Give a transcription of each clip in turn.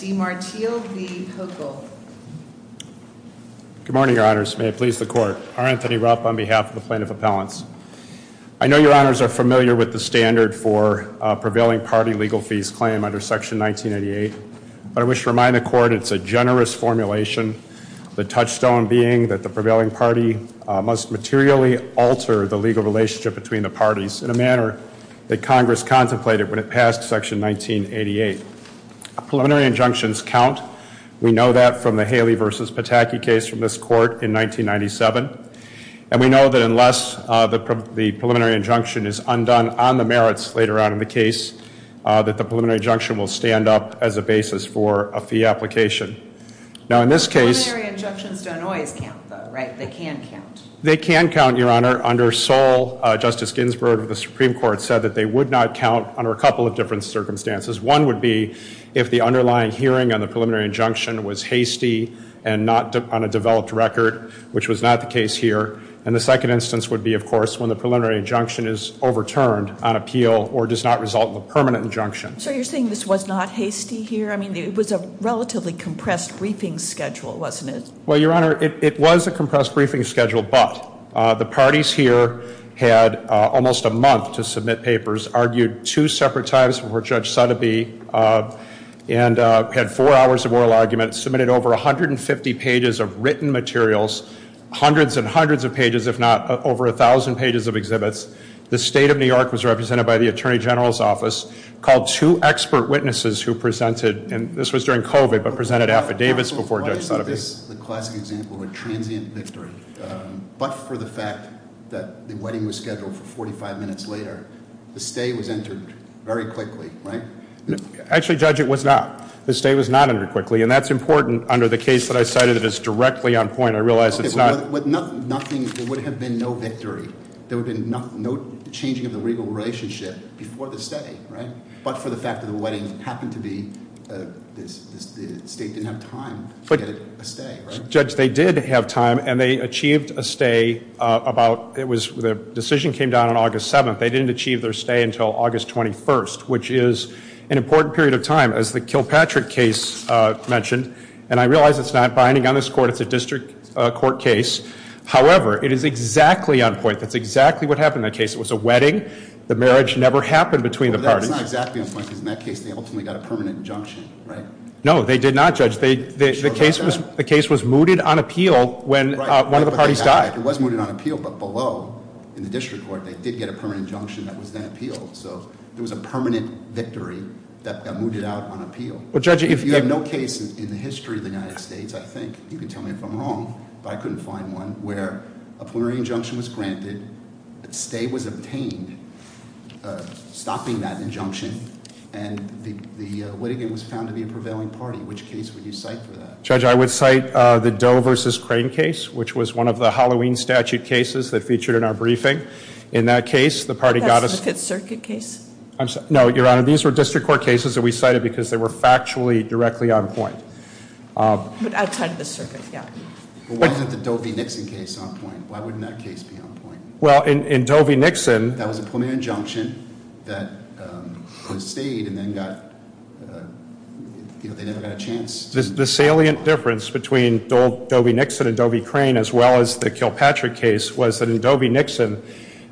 Good morning, Your Honors. May it please the Court. R. Anthony Rupp on behalf of the Plaintiff Appellants. I know Your Honors are familiar with the standard for prevailing party legal fees claim under Section 1988, but I wish to remind the Court it's a generous formulation, the touchstone being that the prevailing party must materially alter the legal relationship between the parties in a manner that Congress contemplated when it passed Section 1988. Preliminary injunctions count. We know that from the Haley v. Pataki case from this Court in 1997. And we know that unless the preliminary injunction is undone on the merits later on in the case, that the preliminary injunction will stand up as a basis for a fee application. Now in this case... Preliminary injunctions don't always count though, right? They can count. They can count, Your Honor. Under Sol, Justice Ginsburg of the Supreme Court said that they would not count under a couple of different circumstances. One would be if the underlying hearing on the preliminary injunction was hasty and not on a developed record, which was not the case here. And the second instance would be, of course, when the preliminary injunction is overturned on appeal or does not result in a permanent injunction. So you're saying this was not hasty here? I mean, it was a relatively compressed briefing schedule, wasn't it? Well, Your Honor, it was a compressed briefing schedule, but the two separate times before Judge Sotheby and had four hours of oral arguments, submitted over 150 pages of written materials, hundreds and hundreds of pages, if not over a thousand pages of exhibits. The State of New York was represented by the Attorney General's office, called two expert witnesses who presented, and this was during COVID, but presented affidavits before Judge Sotheby. Why isn't this the classic example of a transient victory? But for the wedding, the stay was entered very quickly, right? Actually, Judge, it was not. The stay was not entered quickly, and that's important under the case that I cited that is directly on point. I realize it's not. Okay, but nothing, there would have been no victory. There would have been no changing of the legal relationship before the stay, right? But for the fact that the wedding happened to be, the State didn't have time to get a stay, right? Judge, they did have time, and they achieved a stay about, it was, the decision came down on August 7th. But they didn't achieve their stay until August 21st, which is an important period of time, as the Kilpatrick case mentioned. And I realize it's not binding on this court. It's a district court case. However, it is exactly on point. That's exactly what happened in that case. It was a wedding. The marriage never happened between the parties. But that's not exactly on point, because in that case, they ultimately got a permanent injunction, right? No, they did not, Judge. They, the case was, the case was mooted on appeal when one of the parties died. Right, but they got, it was mooted on appeal, but below, in the district court, they did get a permanent injunction that was then appealed. So, there was a permanent victory that got mooted out on appeal. Well, Judge, if- You have no case in the history of the United States, I think, you can tell me if I'm wrong, but I couldn't find one, where a preliminary injunction was granted, a stay was obtained, stopping that injunction, and the, the litigant was found to be a prevailing party. Which case would you cite for that? Judge, I would cite the Doe versus Crane case, which was one of the Halloween statute cases that featured in our briefing. In that case, the party got a- That's the Fifth Circuit case? I'm sorry, no, Your Honor, these were district court cases that we cited because they were factually directly on point. But outside of the circuit, yeah. But wasn't the Doe v. Nixon case on point? Why wouldn't that case be on point? Well, in, in Doe v. Nixon- That was a permanent injunction that was stayed and then got, you know, they never got a chance The salient difference between Doe v. Nixon and Doe v. Crane, as well as the Kilpatrick case, was that in Doe v. Nixon,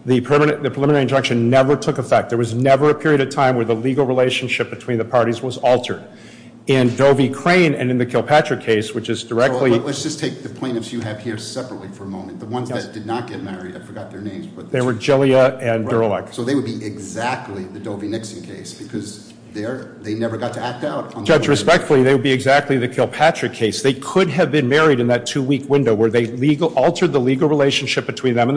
the permanent, the preliminary injunction never took effect. There was never a period of time where the legal relationship between the parties was altered. In Doe v. Crane and in the Kilpatrick case, which is directly- Let's just take the plaintiffs you have here separately for a moment. The ones that did not get married, I forgot their names, but- They were Gillia and Durelek. So they would be exactly the Doe v. Nixon case because they're, they never got to act out on the- Judge, respectfully, they would be exactly the Kilpatrick case. They could have been in the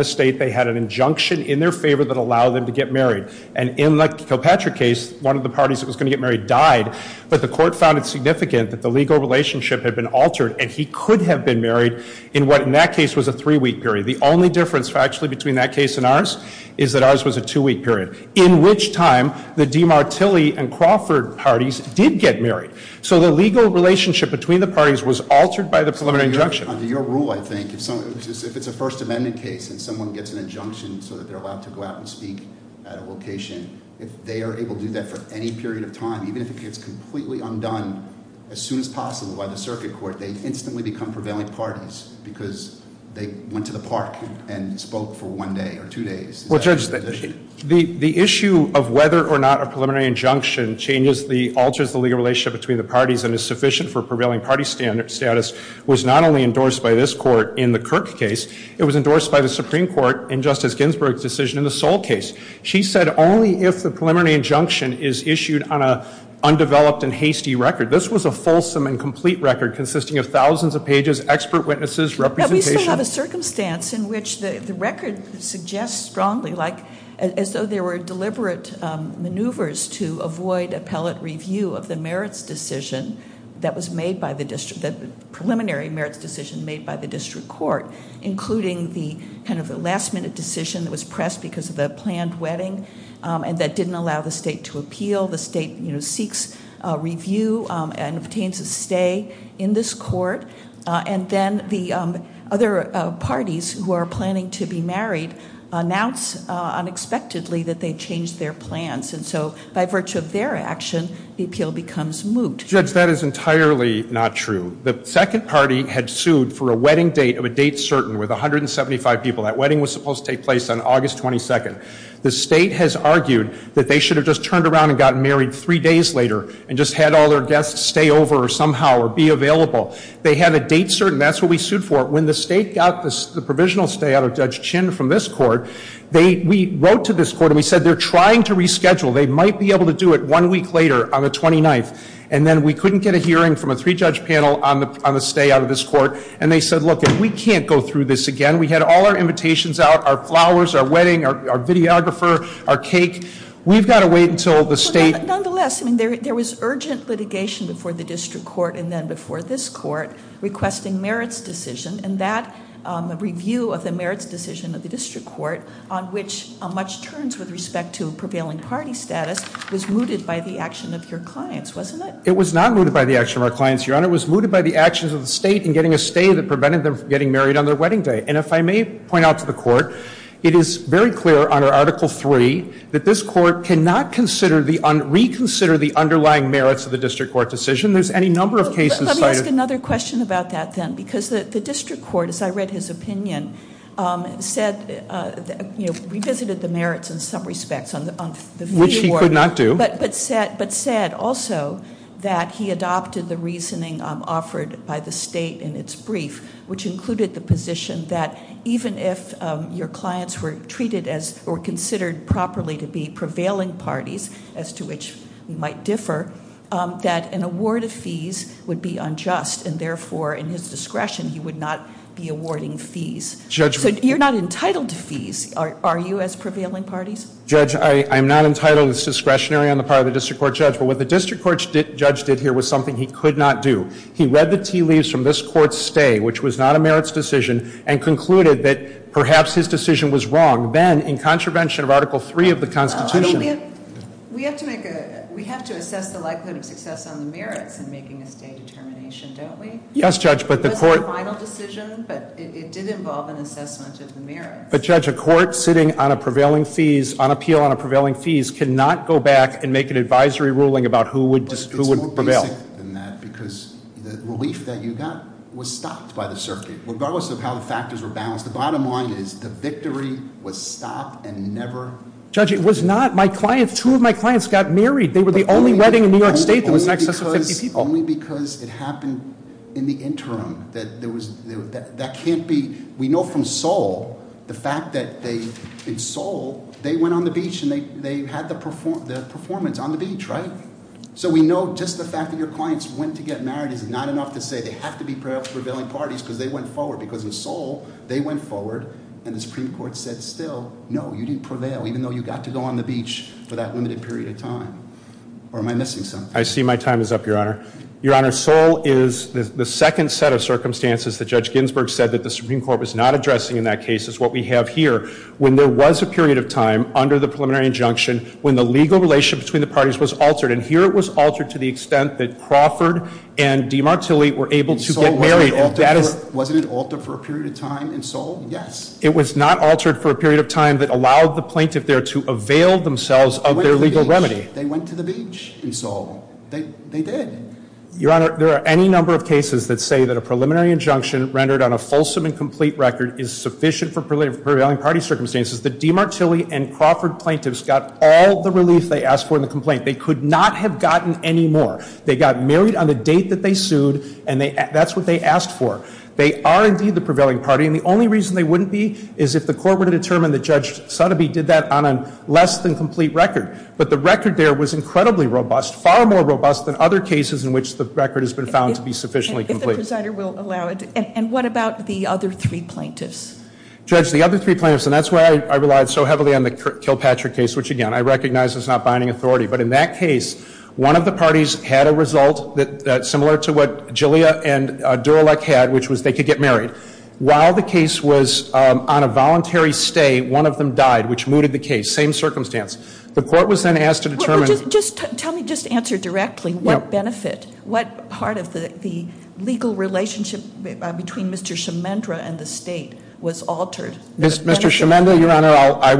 state, they had an injunction in their favor that allowed them to get married. And in the Kilpatrick case, one of the parties that was going to get married died, but the court found it significant that the legal relationship had been altered and he could have been married in what, in that case, was a three-week period. The only difference factually between that case and ours is that ours was a two-week period, in which time the DiMartilli and Crawford parties did get married. So the legal relationship between the parties was altered by the preliminary injunction. Under your rule, I think, if it's a First Amendment case and someone gets an injunction so that they're allowed to go out and speak at a location, if they are able to do that for any period of time, even if it gets completely undone as soon as possible by the circuit court, they instantly become prevailing parties because they went to the park and spoke for one day or two days. Well, Judge, the issue of whether or not a preliminary injunction changes the, alters the legal relationship between the parties and is sufficient for prevailing party status was not only endorsed by this court in the Kirk case, it was endorsed by the Supreme Court in Justice Ginsburg's decision in the Soule case. She said only if the preliminary injunction is issued on a undeveloped and hasty record. This was a fulsome and complete record consisting of thousands of pages, expert witnesses, representation. Now, we still have a circumstance in which the record suggests strongly, like, as though there were deliberate maneuvers to avoid appellate review of the merits decision that was made by the district, the preliminary merits decision made by the district court, including the kind of last minute decision that was pressed because of the planned wedding and that didn't allow the state to appeal. The state, you know, seeks review and obtains a stay in this court and then the other parties who are planning to be married announce unexpectedly that they changed their plans and so by virtue of their action, the appeal becomes moot. Judge, that is entirely not true. The second party had sued for a wedding date of a date certain with 175 people. That wedding was supposed to take place on August 22nd. The state has argued that they should have just turned around and gotten married three days later and just had all their guests stay over somehow or be available. They had a date certain. That's what we sued for. When the state got the provisional stay out of Judge Chin from this court, we wrote to this court and we said they're trying to reschedule. They might be able to do it one week later on the 29th and then we couldn't get a hearing from a three-judge panel on the stay out of this court and they said, look, if we can't go through this again, we had all our invitations out, our flowers, our wedding, our videographer, our cake. We've got to wait until the state- Nonetheless, there was urgent litigation before the district court and then before this court requesting merits decision and that review of the merits decision of the district court on which much turns with respect to prevailing party status was mooted by the action of your clients, wasn't it? It was not mooted by the action of our clients, Your Honor. It was mooted by the actions of the state in getting a stay that prevented them from getting married on their wedding day. And if I may point out to the court, it is very clear under Article III that this court cannot reconsider the underlying merits of the district court decision. There's any number of cases- Let me ask another question about that then because the district court, as I read his statement, revisited the merits in some respects on the fee award- Which he could not do. But said also that he adopted the reasoning offered by the state in its brief, which included the position that even if your clients were treated as or considered properly to be prevailing parties, as to which we might differ, that an award of fees would be unjust and therefore in his discretion, he would not be awarding fees. Judgment. So you're not entitled to fees, are you, as prevailing parties? Judge, I'm not entitled as discretionary on the part of the district court judge. But what the district court judge did here was something he could not do. He read the tea leaves from this court's stay, which was not a merits decision, and concluded that perhaps his decision was wrong. Then, in contravention of Article III of the Constitution- We have to make a, we have to assess the likelihood of success on the merits in making a stay determination, don't we? Yes, Judge, but the court- But Judge, a court sitting on a prevailing fees, on appeal on a prevailing fees, cannot go back and make an advisory ruling about who would prevail. But it's more basic than that because the relief that you got was stopped by the circuit. Regardless of how the factors were balanced, the bottom line is the victory was stopped and never- Judge, it was not. My client, two of my clients got married. They were the only wedding in New York State that was in excess of 50 people. It's only because it happened in the interim that there was, that can't be, we know from Seoul the fact that they, in Seoul, they went on the beach and they had the performance on the beach, right? So we know just the fact that your clients went to get married is not enough to say they have to be prevailing parties because they went forward. Because in Seoul, they went forward and the Supreme Court said, still, no, you didn't prevail even though you got to go on the beach for that limited period of time. Or am I missing something? I see my time is up, Your Honor. Your Honor, Seoul is the second set of circumstances that Judge Ginsburg said that the Supreme Court was not addressing in that case. It's what we have here. When there was a period of time under the preliminary injunction, when the legal relationship between the parties was altered, and here it was altered to the extent that Crawford and DiMartilli were able to get married. In Seoul, wasn't it altered for a period of time in Seoul? Yes. It was not altered for a period of time that allowed the plaintiff there to avail themselves of their legal remedy. They went to the beach in Seoul. They did. Your Honor, there are any number of cases that say that a preliminary injunction rendered on a fulsome and complete record is sufficient for prevailing party circumstances. The DiMartilli and Crawford plaintiffs got all the relief they asked for in the complaint. They could not have gotten any more. They got married on the date that they sued, and that's what they asked for. They are, indeed, the prevailing party. And the only reason they wouldn't be is if the court were to determine that Judge Sotheby did that on a less than complete record. But the record there was incredibly robust, far more robust than other cases in which the record has been found to be sufficiently complete. If the presider will allow it. And what about the other three plaintiffs? Judge, the other three plaintiffs, and that's why I relied so heavily on the Kilpatrick case, which, again, I recognize is not binding authority. But in that case, one of the parties had a result that's similar to what Gilea and Durelek had, which was they could get married. While the case was on a voluntary stay, one of them died, which mooted the case. Same circumstance. The court was then asked to determine... Well, just tell me, just answer directly, what benefit, what part of the legal relationship between Mr. Chimendra and the state was altered? Mr. Chimendra, Your Honor, I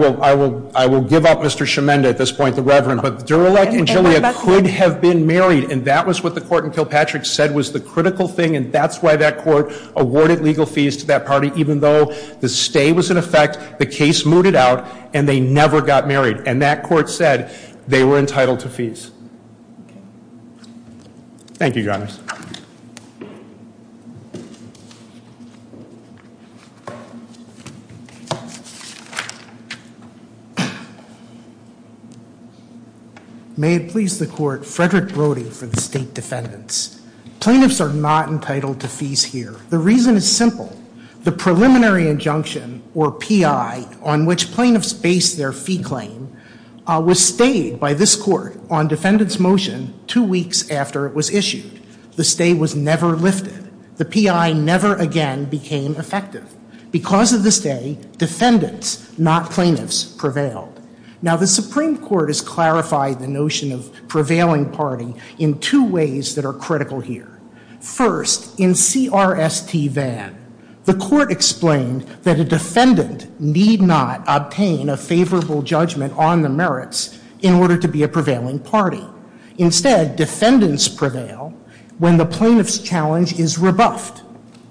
will give up Mr. Chimendra at this point, the Reverend. But Durelek and Gilea could have been married, and that was what the court in Kilpatrick said was the critical thing. And that's why that court awarded legal fees to that party, even though the stay was in effect, the case mooted out, and they never got married. And that court said they were entitled to fees. Thank you, Your Honor. May it please the Court, Frederick Brody for the State Defendants. Plaintiffs are not entitled to fees here. The reason is simple. The preliminary injunction, or P.I., on which plaintiffs base their fee claim was stayed by this court on defendant's motion two weeks after it was issued. The stay was never lifted. The P.I. never again became effective. Because of the stay, defendants, not plaintiffs, prevailed. Now, the Supreme Court has clarified the notion of prevailing party in two ways that are critical here. First, in C.R.S.T. Vann, the court explained that a defendant need not obtain a favorable judgment on the merits in order to be a prevailing party. Instead, defendants prevail when the plaintiff's challenge is rebuffed,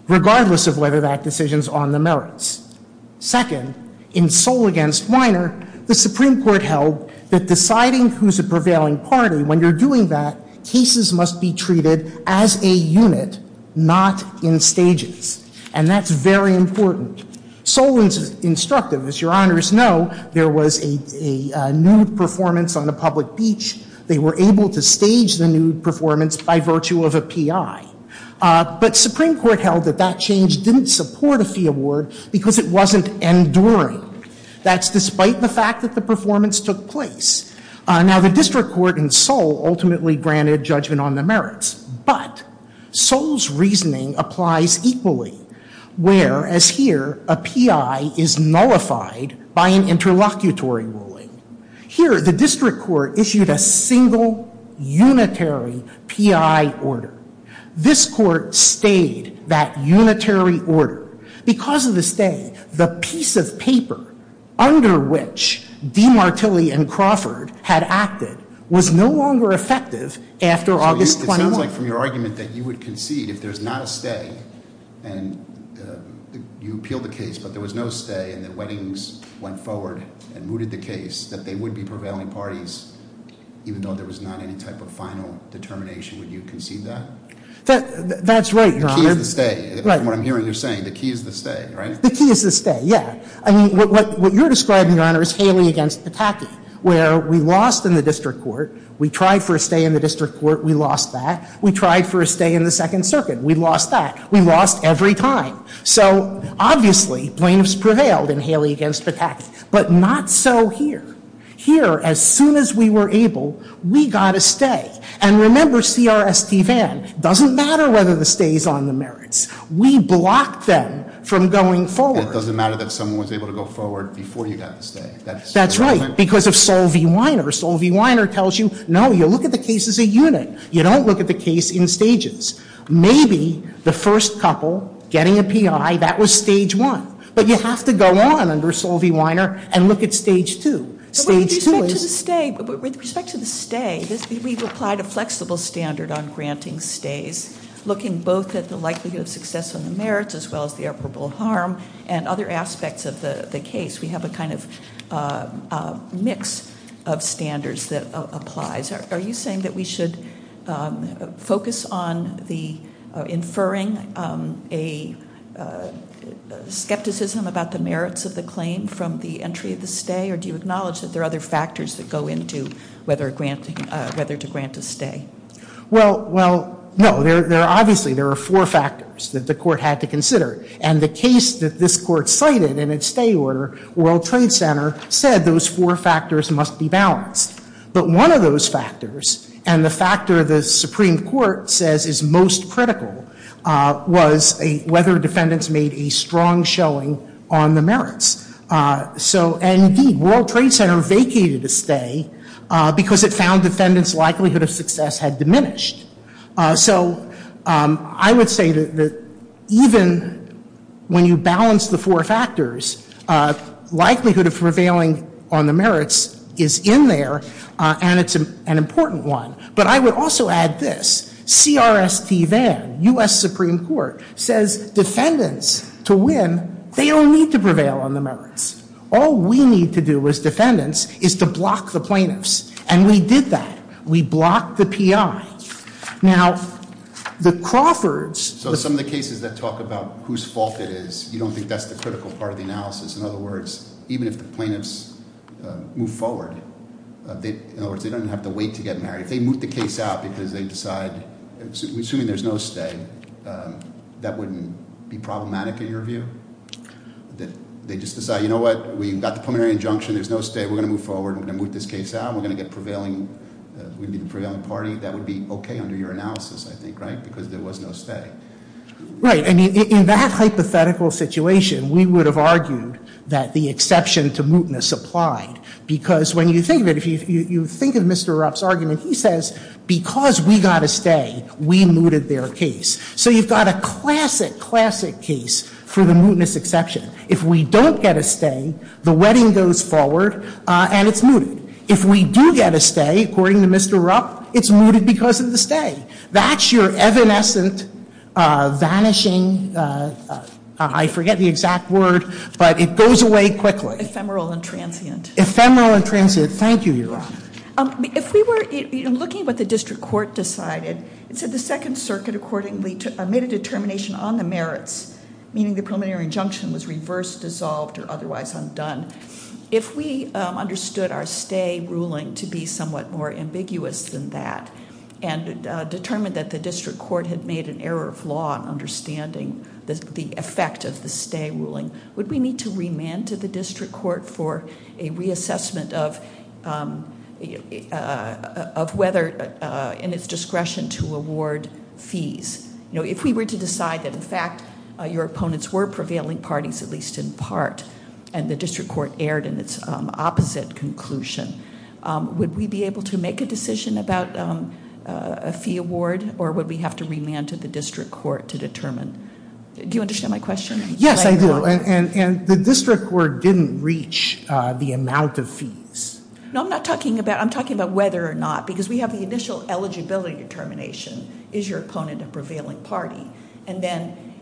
regardless of whether that decision's on the merits. Second, in Soll v. Weiner, the Supreme Court held that deciding who's a prevailing party, when you're doing that, cases must be treated as a unit, not in stages. And that's very important. Soll was instructive. As Your Honors know, there was a nude performance on a public beach. They were able to stage the nude performance by virtue of a P.I. But Supreme Court held that change didn't support a fee award because it wasn't enduring. That's despite the fact that the performance took place. Now, the district court in Soll ultimately granted judgment on the merits. But Soll's reasoning applies equally, whereas here, a P.I. is nullified by an interlocutory ruling. Here, the district court issued a single, unitary P.I. order. This court stayed that unitary order. Because of the stay, the piece of paper under which DiMartilli and Crawford had acted was no longer effective after August 21. So it sounds like from your argument that you would concede if there's not a stay, and you appeal the case, but there was no stay, and the weddings went forward and mooted the case, that they would be prevailing parties, even though there was not any type of final determination. Would you concede that? That's right, Your Honor. The key is the stay. From what I'm hearing you're saying, the key is the stay, right? The key is the stay, yeah. I mean, what you're describing, Your Honor, is Haley against Pataki, where we lost in the district court. We tried for a stay in the district court. We lost that. We tried for a stay in the Second Circuit. We lost that. We lost every time. So, obviously, plaintiffs prevailed in Haley against Pataki. But not so here. Here, as soon as we were able, we got a stay. And remember C.R.S.T. Vann, doesn't matter whether the stay's on the merits. We blocked them from going forward. And it doesn't matter that someone was able to go forward before you got the stay. That's right, because of Sol V. Weiner. Sol V. Weiner tells you, no, you look at the case as a unit. You don't look at the case in stages. Maybe the first couple getting a P.I., that was stage one. But you have to go on under Sol V. Weiner and look at stage two. Stage two is... With respect to the stay, we've applied a flexible standard on granting stays, looking both at the likelihood of success on the merits as well as the operable harm and other aspects of the case. We have a kind of mix of standards that applies. Are you saying that we should focus on inferring a skepticism about the merits of the claim from the entry of the stay? Or do you acknowledge that there are other factors that go into whether to grant a stay? Well, no. Obviously, there are four factors that the court had to consider. And the case that this court cited in its stay order, World Trade Center, said those four factors must be balanced. But one of those factors, and the factor the Supreme Court says is most critical, was whether defendants made a strong showing on the merits. So indeed, World Trade Center vacated a stay because it found defendants' likelihood of success had diminished. So I would say that even when you balance the four factors, likelihood of prevailing on the merits is in there, and it's an important one. But I would also add this. CRST then, U.S. Supreme Court, says defendants to win, they don't need to prevail on the merits. All we need to do as defendants is to block the plaintiffs. And we did that. We blocked the PI. Now, the Crawfords... So some of the cases that talk about whose fault it is, you don't think that's the critical part of the analysis. In other words, even if the plaintiffs move forward, in other words, they don't have to wait to get married. If they moot the case out because they decide, assuming there's no stay, that wouldn't be problematic in your view? That they just decide, you know what, we've got the preliminary injunction, there's no stay, we're going to move forward, we're going to moot this case out, we're going to get prevailing, we'd be the prevailing party. That would be okay under your analysis, I think, right? Because there was no stay. Right. And in that hypothetical situation, we would have argued that the exception to mootness applied. Because when you think of it, if you think of Mr. Rupp's argument, he says, because we got a stay, we mooted their case. So you've got a classic, classic case for the mootness exception. If we don't get a stay, the wedding goes forward, and it's mooted. If we do get a stay, according to Mr. Rupp, it's mooted because of the stay. That's your evanescent, vanishing, I forget the exact word, but it goes away quickly. Ephemeral and transient. Ephemeral and transient. Thank you, Your Honor. If we were looking at what the district court decided, it said the Second Circuit accordingly made a determination on the merits, meaning the preliminary injunction was reversed, dissolved, or otherwise undone. If we understood our stay ruling to be somewhat more ambiguous than that, and determined that the district court had made an error of law in understanding the effect of the stay ruling, would we need to remand to the district court for a reassessment of whether, in its discretion, to award fees? If we were to decide that, in fact, your opponents were prevailing parties, at least in part, and the district court erred in its opposite conclusion, would we be able to make a decision about a fee award, or would we have to remand to the district court to determine? Do you understand my question? Yes, I do. And the district court didn't reach the amount of fees. No, I'm not talking about, I'm talking about whether or not, because we have the initial eligibility determination, is your opponent a prevailing party? And then,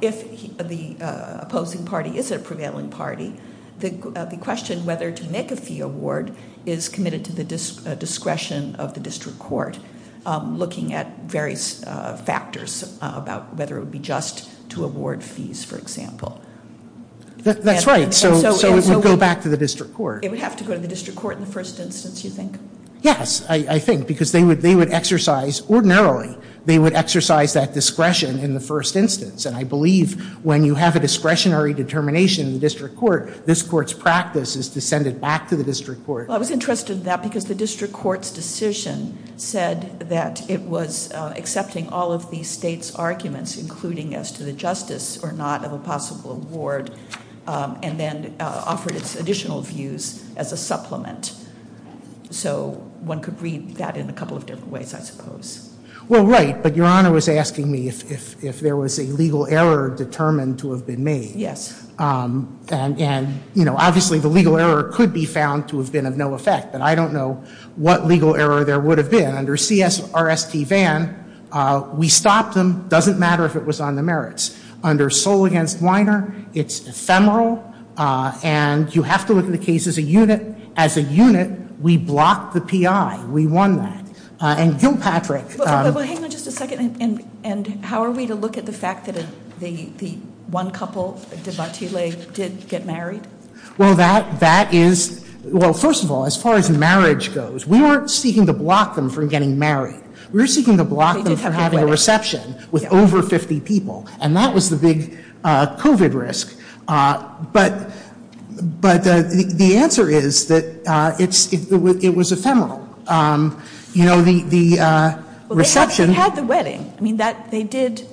if the opposing party is a prevailing party, the question whether to make a fee award is committed to the discretion of the district court, looking at various factors about whether it would be just to award fees, for example. That's right, so it would go back to the district court. It would have to go to the district court in the first instance, you think? Yes, I think, because they would exercise, ordinarily, they would exercise that discretion in the first instance. And I believe when you have a discretionary determination in the district court, this court's practice is to send it back to the district court. Well, I was interested in that, because the district court's decision said that it was accepting all of the state's arguments, including as to the justice or not of a possible award, and then offered its additional views as a supplement. So one could read that in a couple of different ways, I suppose. Well, right, but Your Honor was asking me if there was a legal error determined to have been made. Yes. And, you know, obviously the legal error could be found to have been of no effect, but I don't know what legal error there would have been. Under C.S. R.S.T. Vann, we stopped them, doesn't matter if it was on the merits. Under Soule v. Weiner, it's ephemeral, and you have to look at the case as a unit. As a unit, we blocked the P.I. We won that. And Gilpatrick — Well, hang on just a second. And how are we to look at the fact that the one couple, de Bartile, did get married? Well, that is — well, first of all, as far as marriage goes, we weren't seeking to block them from getting married. We were seeking to block them from having a reception with over 50 people, and that was the big COVID risk. But the answer is that it was ephemeral. You know, the reception — They had the wedding. I mean, they did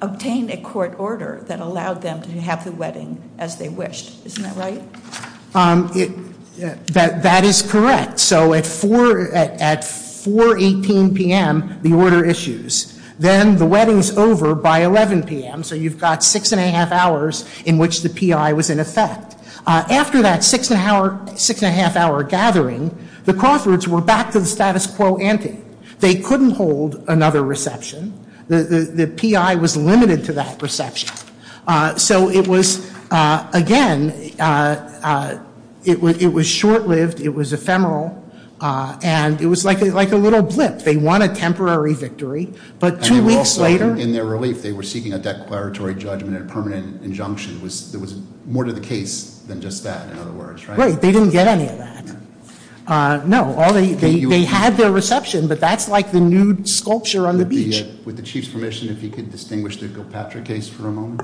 obtain a court order that allowed them to have the wedding as they wished. Isn't that right? That is correct. So at 4.18 p.m., the order issues. Then the wedding's over by 11 p.m., so you've got 6 1⁄2 hours in which the P.I. was in effect. After that 6 1⁄2 hour gathering, the Crawfords were back to the status quo ante. They couldn't hold another reception. The P.I. was limited to that reception. So it was — again, it was short-lived. It was ephemeral. And it was like a little blip. They won a temporary victory, but two weeks later — In their relief, they were seeking a declaratory judgment and a permanent injunction. There was more to the case than just that, in other words, right? They didn't get any of that. No. They had their reception, but that's like the nude sculpture on the beach. With the Chief's permission, if you could distinguish the Gilpatrick case for a moment.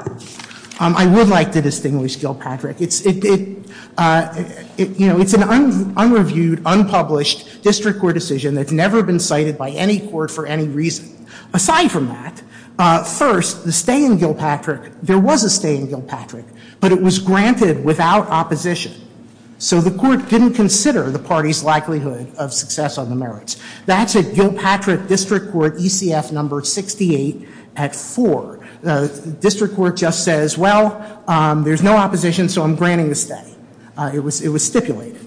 I would like to distinguish Gilpatrick. It's an unreviewed, unpublished district court decision that's never been cited by any court for any reason. Aside from that, first, the stay in Gilpatrick — there was a stay in Gilpatrick, but it was granted without opposition. So the court didn't consider the party's likelihood of success on the merits. That's at Gilpatrick District Court ECF number 68 at 4. The district court just says, well, there's no opposition, so I'm granting the stay. It was stipulated.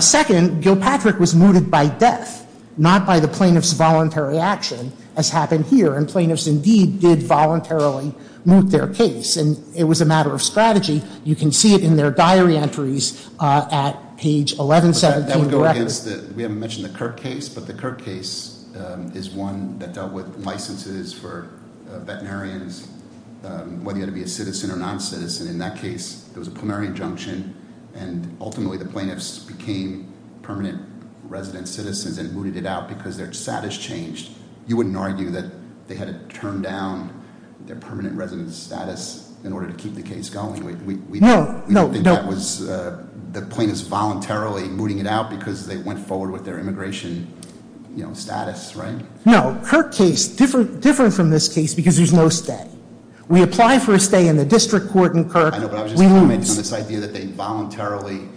Second, Gilpatrick was mooted by death, not by the plaintiff's voluntary action, as happened here. And plaintiffs indeed did voluntarily moot their case. And it was a diary entries at page 1117. That would go against — we haven't mentioned the Kirk case, but the Kirk case is one that dealt with licenses for veterinarians, whether you had to be a citizen or non-citizen. In that case, there was a plenary injunction, and ultimately the plaintiffs became permanent resident citizens and mooted it out because their status changed. You wouldn't argue that they had to turn down their permanent resident status in order to keep the case going. We don't think that was — the plaintiffs voluntarily mooting it out because they went forward with their immigration, you know, status, right? No. Kirk case, different from this case because there's no stay. We apply for a stay in the district court in Kirk. I know, but I was just commenting on this idea that they voluntarily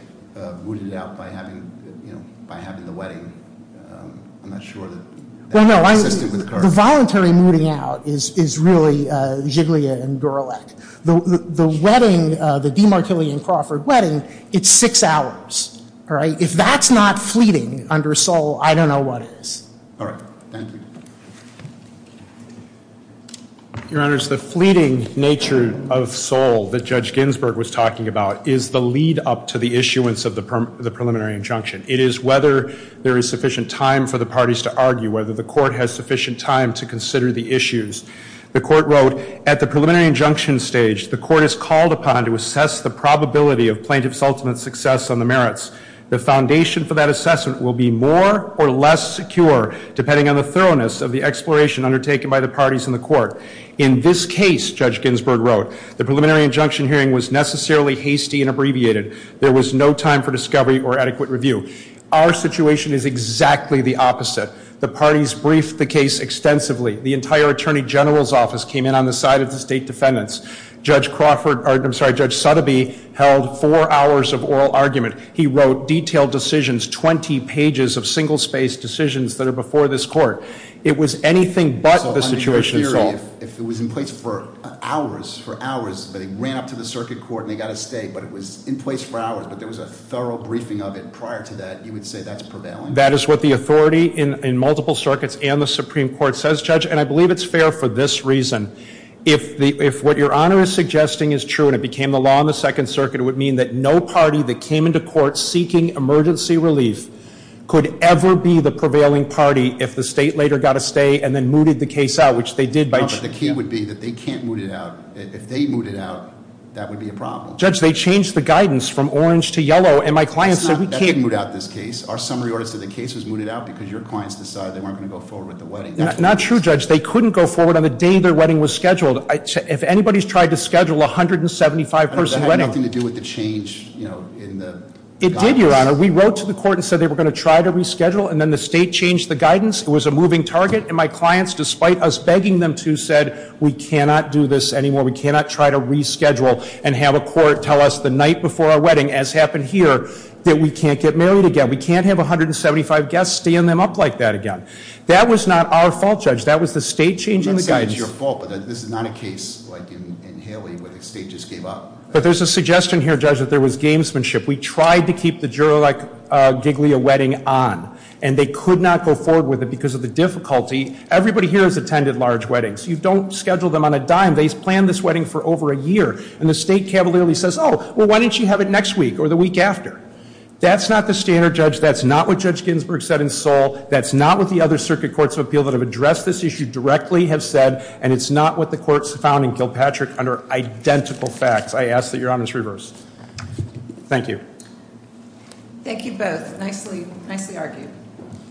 mooted it out by having, you know, by having the wedding. I'm not sure that that's consistent with the Kirk. The voluntary mooting out is really Jiglia and Gorelick. The wedding, the Demartillion-Crawford wedding, it's six hours, all right? If that's not fleeting under Sol, I don't know what is. All right. Thank you. Your Honors, the fleeting nature of Sol that Judge Ginsburg was talking about is the lead-up to the issuance of the preliminary injunction. It is whether there is sufficient time for the issues. The court wrote, at the preliminary injunction stage, the court is called upon to assess the probability of plaintiff's ultimate success on the merits. The foundation for that assessment will be more or less secure depending on the thoroughness of the exploration undertaken by the parties in the court. In this case, Judge Ginsburg wrote, the preliminary injunction hearing was necessarily hasty and abbreviated. There was no time for discovery or adequate review. Our situation is exactly the opposite. The parties briefed the case extensively. The entire Attorney General's office came in on the side of the state defendants. Judge Crawford, or I'm sorry, Judge Sotheby held four hours of oral argument. He wrote detailed decisions, 20 pages of single-spaced decisions that are before this court. It was anything but the situation in Sol. So, under your theory, if it was in place for hours, for hours, but he ran up to the circuit court and he got a stay, but it was in place for hours, but there was a thorough briefing of it prior to that, you would say that's prevailing? That is what the authority in multiple circuits and the Supreme Court says, Judge, and I believe it's fair for this reason. If what Your Honor is suggesting is true and it became the law in the Second Circuit, it would mean that no party that came into court seeking emergency relief could ever be the prevailing party if the state later got a stay and then mooted the case out, which they did by... But the key would be that they can't moot it out. If they moot it out, that would be a problem. Judge, they changed the guidance from orange to yellow, and my clients said we can't... That didn't moot out this case. Our summary order said the case was mooted out because your clients decided they weren't going to go forward with the wedding. Not true, Judge. They couldn't go forward on the day their wedding was scheduled. If anybody's tried to schedule a 175-person wedding... I know, but that had nothing to do with the change in the guidance. It did, Your Honor. We wrote to the court and said they were going to try to reschedule, and then the state changed the guidance. It was a moving target, and my clients, despite us begging them to, said we cannot do this anymore. We cannot try to reschedule and have a court tell us the night before our wedding, as happened here, that we can't get married again. We can't have 175 guests stand them up like that again. That was not our fault, Judge. That was the state changing the guidance. I'm sorry, it's your fault, but this is not a case like in Haley where the state just gave up. But there's a suggestion here, Judge, that there was gamesmanship. We tried to keep the juror-like giglia wedding on, and they could not go forward with it because of the difficulty. Everybody here has attended large weddings. You don't schedule them on a dime. They've said, oh, well, why don't you have it next week or the week after? That's not the standard, Judge. That's not what Judge Ginsburg said in Seoul. That's not what the other circuit courts of appeal that have addressed this issue directly have said, and it's not what the courts found in Gilpatrick under identical facts. I ask that Your Honor is reversed. Thank you. Thank you both. Nicely argued.